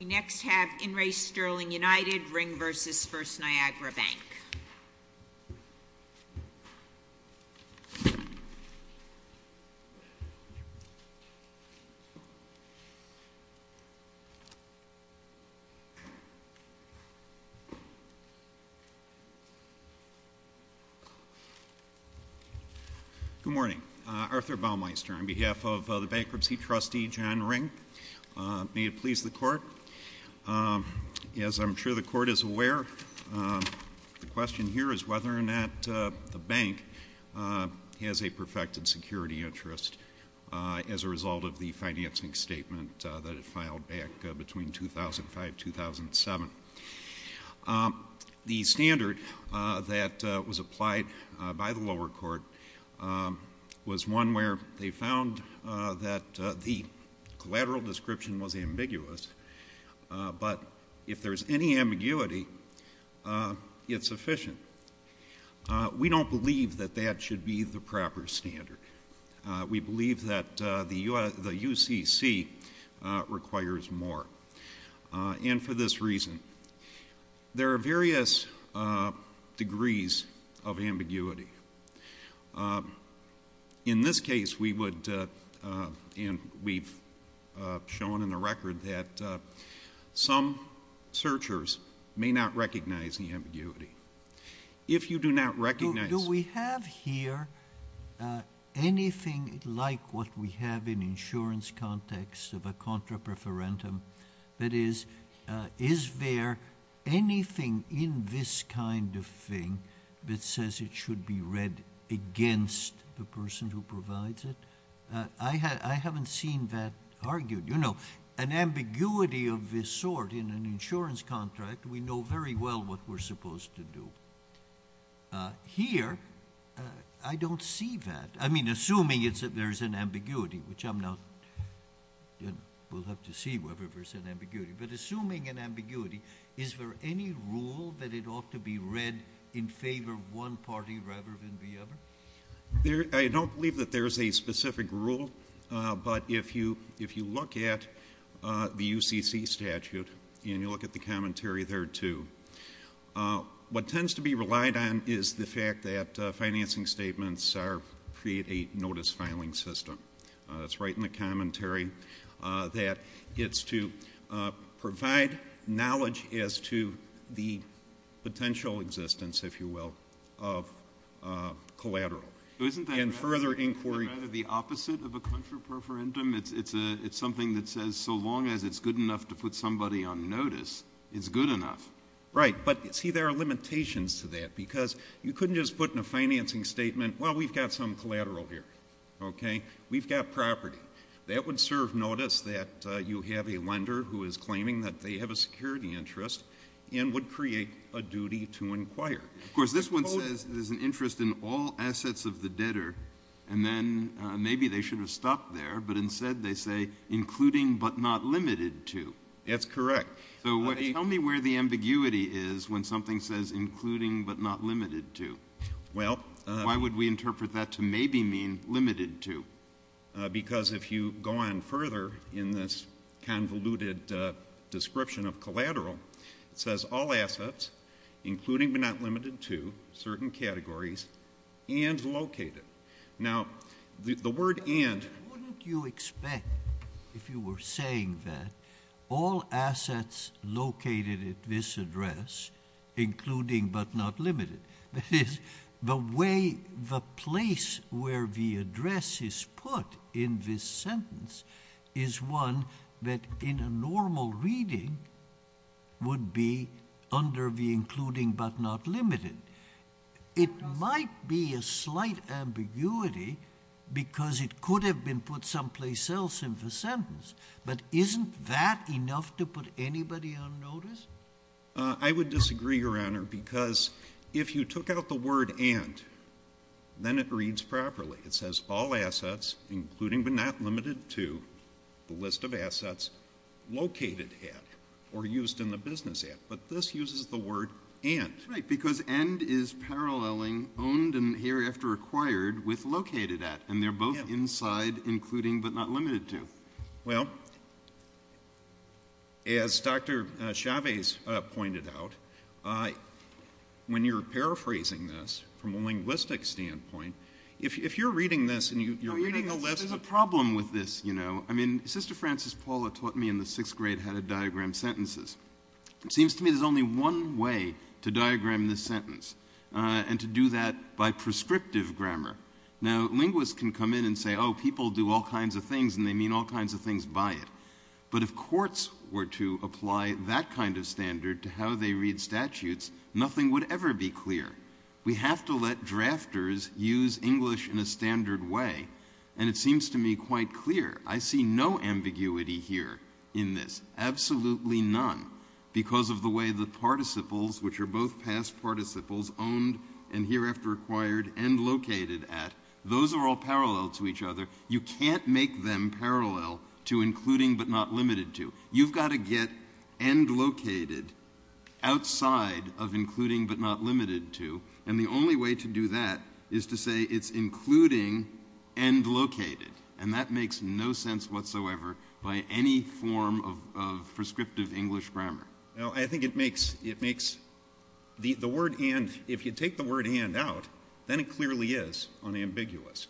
We next have In Re. Sterling United, Ring v. First Niagara Bank. Good morning. Arthur Baumeister on behalf of the Bankruptcy Trustee, John Ring. May it please the Court. As I'm sure the Court is aware, the question here is whether or not the Bank has a perfected security interest as a result of the financing statement that it filed back between 2005-2007. The standard that was applied by the lower court was one where they found that the collateral description was ambiguous, but if there's any ambiguity, it's sufficient. We don't believe that that should be the proper standard. We believe that the UCC requires more. And for this reason, there are various degrees of ambiguity. In this case, we've shown in the record that some searchers may not recognize the ambiguity. Do we have here anything like what we have in insurance context of a contra preferentum? That is, is there anything in this kind of thing that says it should be read against the person who provides it? I haven't seen that argued. You know, an ambiguity of this sort in an insurance contract, we know very well what we're supposed to do. Here, I don't see that. I mean, assuming there's an ambiguity, which I'm not – we'll have to see whether there's an ambiguity. But assuming an ambiguity, is there any rule that it ought to be read in favor of one party rather than the other? I don't believe that there's a specific rule. But if you look at the UCC statute and you look at the commentary there, too, what tends to be relied on is the fact that financing statements create a notice filing system. It's right in the commentary that it's to provide knowledge as to the potential existence, if you will, of collateral. Isn't that rather the opposite of a contra preferentum? It's something that says so long as it's good enough to put somebody on notice, it's good enough. Right. But, see, there are limitations to that because you couldn't just put in a financing statement, well, we've got some collateral here, okay? We've got property. That would serve notice that you have a lender who is claiming that they have a security interest and would create a duty to inquire. Of course, this one says there's an interest in all assets of the debtor, and then maybe they should have stopped there, but instead they say including but not limited to. That's correct. So tell me where the ambiguity is when something says including but not limited to. Well. Why would we interpret that to maybe mean limited to? Because if you go on further in this convoluted description of collateral, it says all assets including but not limited to certain categories and located. Now, the word and. Wouldn't you expect, if you were saying that, all assets located at this address including but not limited? That is, the way the place where the address is put in this sentence is one that, in a normal reading, would be under the including but not limited. It might be a slight ambiguity because it could have been put someplace else in the sentence, but isn't that enough to put anybody on notice? I would disagree, Your Honor, because if you took out the word and, then it reads properly. It says all assets including but not limited to the list of assets located at or used in the business at, but this uses the word and. Right, because and is paralleling owned and hereafter acquired with located at, and they're both inside including but not limited to. Well, as Dr. Chavez pointed out, when you're paraphrasing this from a linguistic standpoint, if you're reading this and you're reading a list of... There's a problem with this, you know. I mean, Sister Frances Paula taught me in the sixth grade how to diagram sentences. It seems to me there's only one way to diagram this sentence and to do that by prescriptive grammar. Now, linguists can come in and say, oh, people do all kinds of things and they mean all kinds of things by it, but if courts were to apply that kind of standard to how they read statutes, nothing would ever be clear. We have to let drafters use English in a standard way, and it seems to me quite clear. I see no ambiguity here in this, absolutely none, because of the way the participles, which are both past participles, owned and hereafter acquired and located at, those are all parallel to each other. You can't make them parallel to including but not limited to. You've got to get end located outside of including but not limited to, and the only way to do that is to say it's including end located, and that makes no sense whatsoever by any form of prescriptive English grammar. Now, I think it makes the word and, if you take the word and out, then it clearly is unambiguous,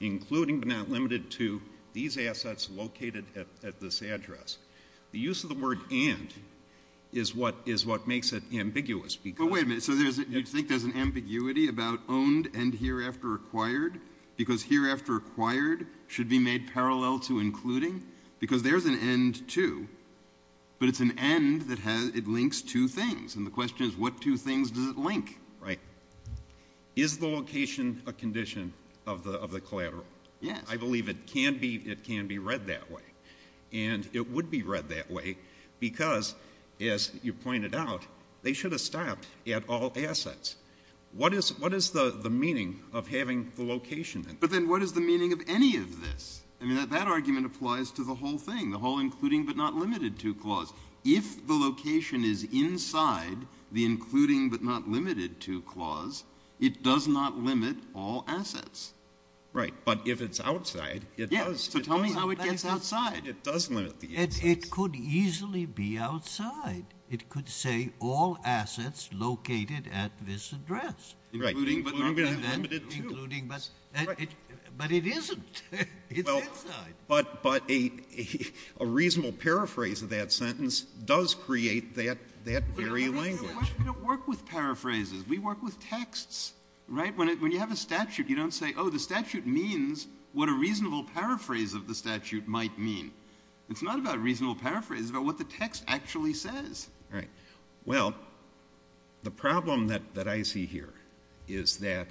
including but not limited to these assets located at this address. The use of the word and is what makes it ambiguous. But wait a minute. So you think there's an ambiguity about owned and hereafter acquired because hereafter acquired should be made parallel to including because there's an end to, but it's an end that links two things, and the question is what two things does it link? Right. Is the location a condition of the collateral? Yes. I believe it can be read that way, and it would be read that way because, as you pointed out, they should have stopped at all assets. What is the meaning of having the location? But then what is the meaning of any of this? I mean, that argument applies to the whole thing, the whole including but not limited to clause. If the location is inside the including but not limited to clause, it does not limit all assets. Right. But if it's outside, it does. Yes. So tell me how it gets outside. It does limit the assets. It could easily be outside. It could say all assets located at this address. Right. Including but not limited to. Including but it isn't. It's inside. But a reasonable paraphrase of that sentence does create that very language. We don't work with paraphrases. We work with texts. Right? When you have a statute, you don't say, oh, the statute means what a reasonable paraphrase of the statute might mean. It's not about reasonable paraphrases. It's about what the text actually says. Right. Well, the problem that I see here is that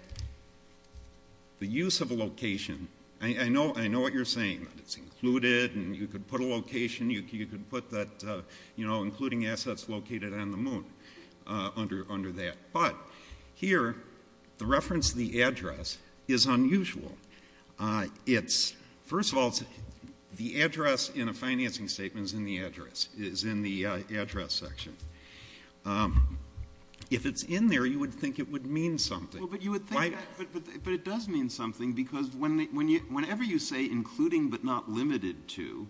the use of a location, I know what you're saying, that it's included and you could put a location, you could put that, you know, including assets located on the moon under that. But here, the reference to the address is unusual. It's, first of all, the address in a financing statement is in the address, is in the If it's in there, you would think it would mean something. Well, but you would think that, but it does mean something because whenever you say including but not limited to,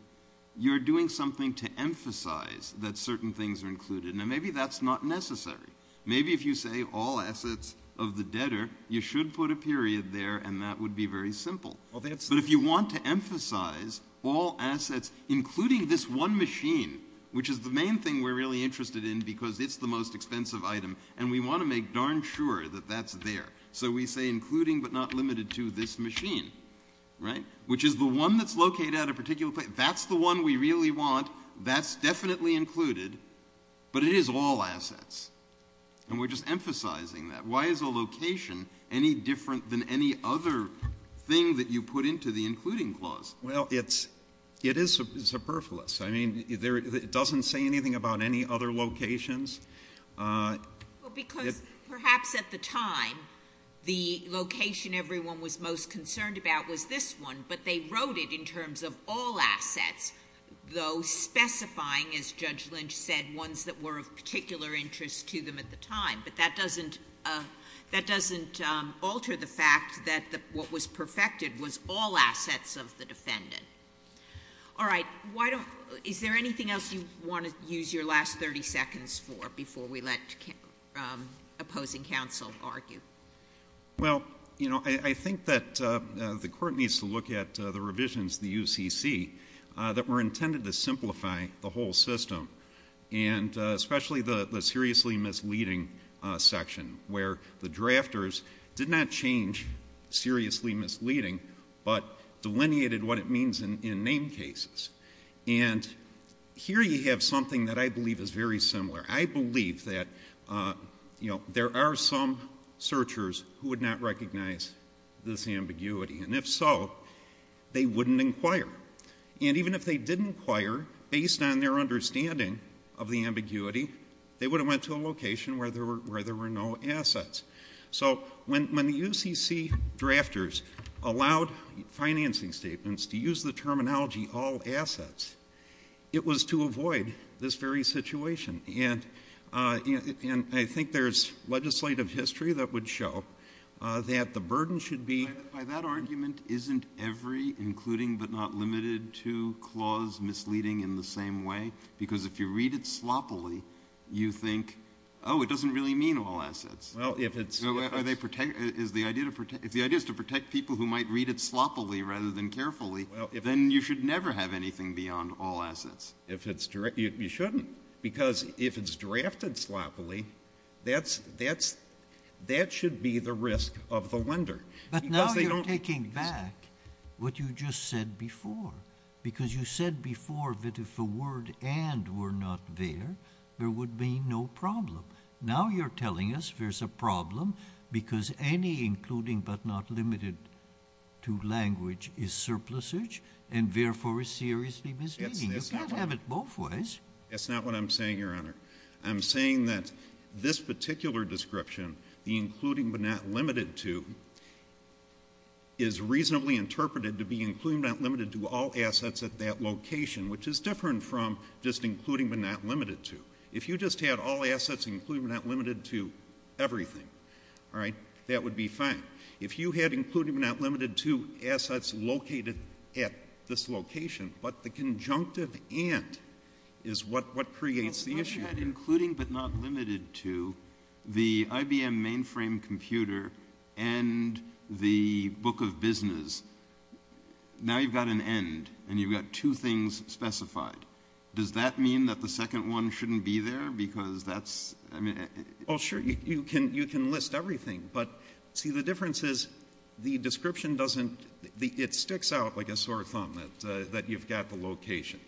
you're doing something to emphasize that certain things are included. Now, maybe that's not necessary. Maybe if you say all assets of the debtor, you should put a period there and that would be very simple. But if you want to emphasize all assets, including this one machine, which is the most expensive item, and we want to make darn sure that that's there. So we say including but not limited to this machine, right, which is the one that's located at a particular place. That's the one we really want. That's definitely included. But it is all assets. And we're just emphasizing that. Why is a location any different than any other thing that you put into the including clause? Well, it's, it is superfluous. I mean, it doesn't say anything about any other locations. Well, because perhaps at the time the location everyone was most concerned about was this one, but they wrote it in terms of all assets, though specifying, as Judge Lynch said, ones that were of particular interest to them at the time. But that doesn't, that doesn't alter the fact that what was perfected was all assets of the defendant. All right. Why don't, is there anything else you want to use your last 30 seconds for before we let opposing counsel argue? Well, you know, I think that the court needs to look at the revisions to the UCC that were intended to simplify the whole system, and especially the seriously misleading section where the drafters did not change seriously misleading but delineated what it means in name cases. And here you have something that I believe is very similar. I believe that, you know, there are some searchers who would not recognize this ambiguity, and if so, they wouldn't inquire. And even if they did inquire, based on their understanding of the ambiguity, they would have went to a location where there were no assets. So when the UCC drafters allowed financing statements to use the terminology all assets, it was to avoid this very situation. And I think there's legislative history that would show that the burden should be By that argument, isn't every including but not limited to clause misleading in the same way? Because if you read it sloppily, you think, oh, it doesn't really mean all assets. Well, if it's If the idea is to protect people who might read it sloppily rather than carefully, then you should never have anything beyond all assets. You shouldn't. Because if it's drafted sloppily, that should be the risk of the lender. But now you're taking back what you just said before. Because you said before that if the word and were not there, there would be no problem. Now you're telling us there's a problem because any including but not limited to language is surplusage and therefore is seriously misleading. You can't have it both ways. That's not what I'm saying, Your Honor. I'm saying that this particular description, the including but not limited to, is reasonably interpreted to be including but not limited to all assets at that location, which is different from just including but not limited to. If you just had all assets including but not limited to everything, all right, that would be fine. If you had including but not limited to assets located at this location, but the conjunctive and is what creates the issue. Well, unless you had including but not limited to the IBM mainframe computer and the book of business, now you've got an and, and you've got two things specified. Does that mean that the second one shouldn't be there? Because that's, I mean. Well, sure, you can list everything. But, see, the difference is the description doesn't, it sticks out like a sore thumb that you've got the location.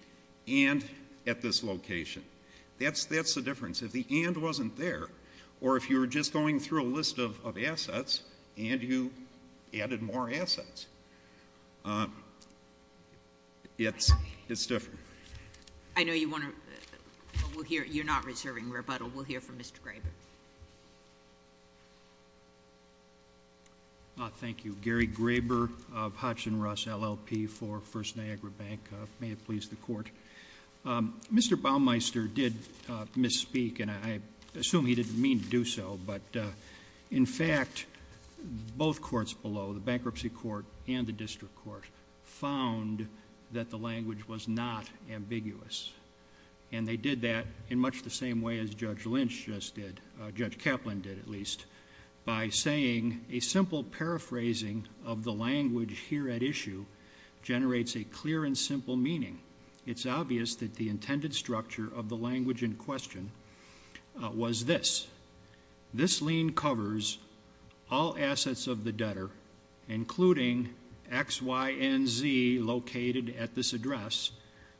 And at this location. That's the difference. If the and wasn't there or if you were just going through a list of assets and you added more assets, it's different. I know you want to, you're not reserving rebuttal. We'll hear from Mr. Graber. Thank you. Gary Graber of Hutch and Russ LLP for First Niagara Bank. May it please the court. Mr. Baumeister did misspeak and I assume he didn't mean to do so. But in fact, both courts below, the bankruptcy court and the district court found that the language was not ambiguous. And they did that in much the same way as Judge Lynch just did, Judge Kaplan did at least. By saying a simple paraphrasing of the language here at issue generates a clear and simple meaning. It's obvious that the intended structure of the language in question was this. This lien covers all assets of the debtor, including X, Y, and Z located at this address.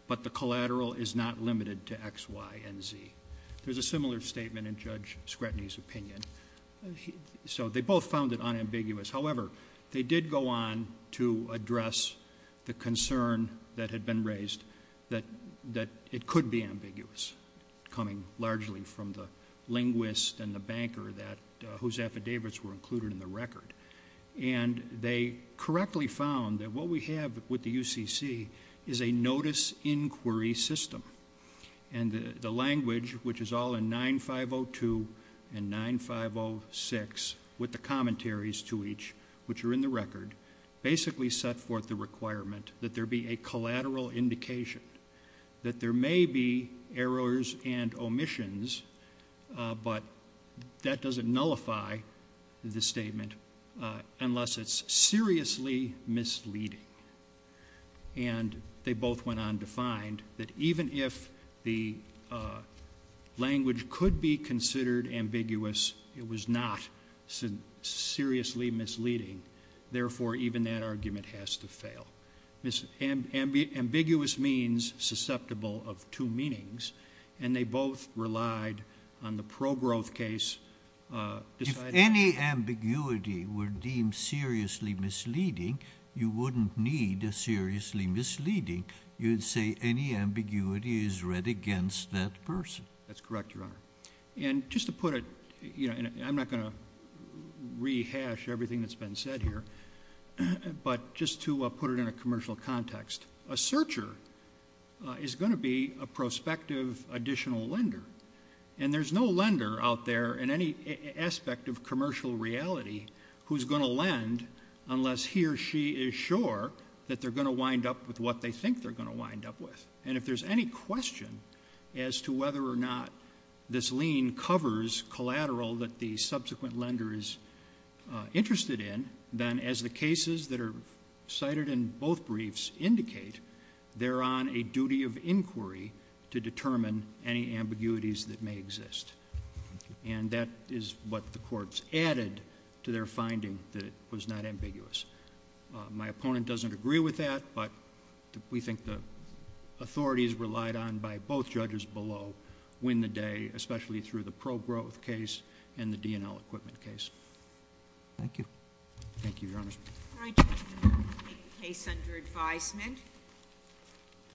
But the collateral is not limited to X, Y, and Z. There's a similar statement in Judge Scratney's opinion. So they both found it unambiguous. However, they did go on to address the concern that had been raised that it could be ambiguous, coming largely from the linguist and the banker whose affidavits were included in the record. And they correctly found that what we have with the UCC is a notice inquiry system. And the language, which is all in 9502 and 9506 with the commentaries to each, which are in the record, basically set forth the requirement that there be a collateral indication. That there may be errors and omissions, but that doesn't nullify the statement unless it's seriously misleading. And they both went on to find that even if the language could be considered ambiguous, it was not seriously misleading, therefore, even that argument has to fail. Ambiguous means susceptible of two meanings, and they both relied on the pro-growth case. If any ambiguity were deemed seriously misleading, you wouldn't need a seriously misleading, you'd say any ambiguity is read against that person. That's correct, Your Honor. And just to put it, and I'm not going to rehash everything that's been said here, but just to put it in a commercial context, a searcher is going to be a prospective additional lender. And there's no lender out there in any aspect of commercial reality who's going to lend unless he or she is sure that they're going to wind up with what they think they're going to wind up with. And if there's any question as to whether or not this lien covers collateral that the subsequent lender is interested in, then as the cases that are cited in both briefs indicate, they're on a duty of inquiry to determine any ambiguities that may exist. And that is what the courts added to their finding that it was not ambiguous. My opponent doesn't agree with that, but we think the authorities relied on by both judges below, win the day, especially through the pro-growth case and the DNL equipment case. Thank you. Thank you, Your Honor. All right, we'll take the case under advisement.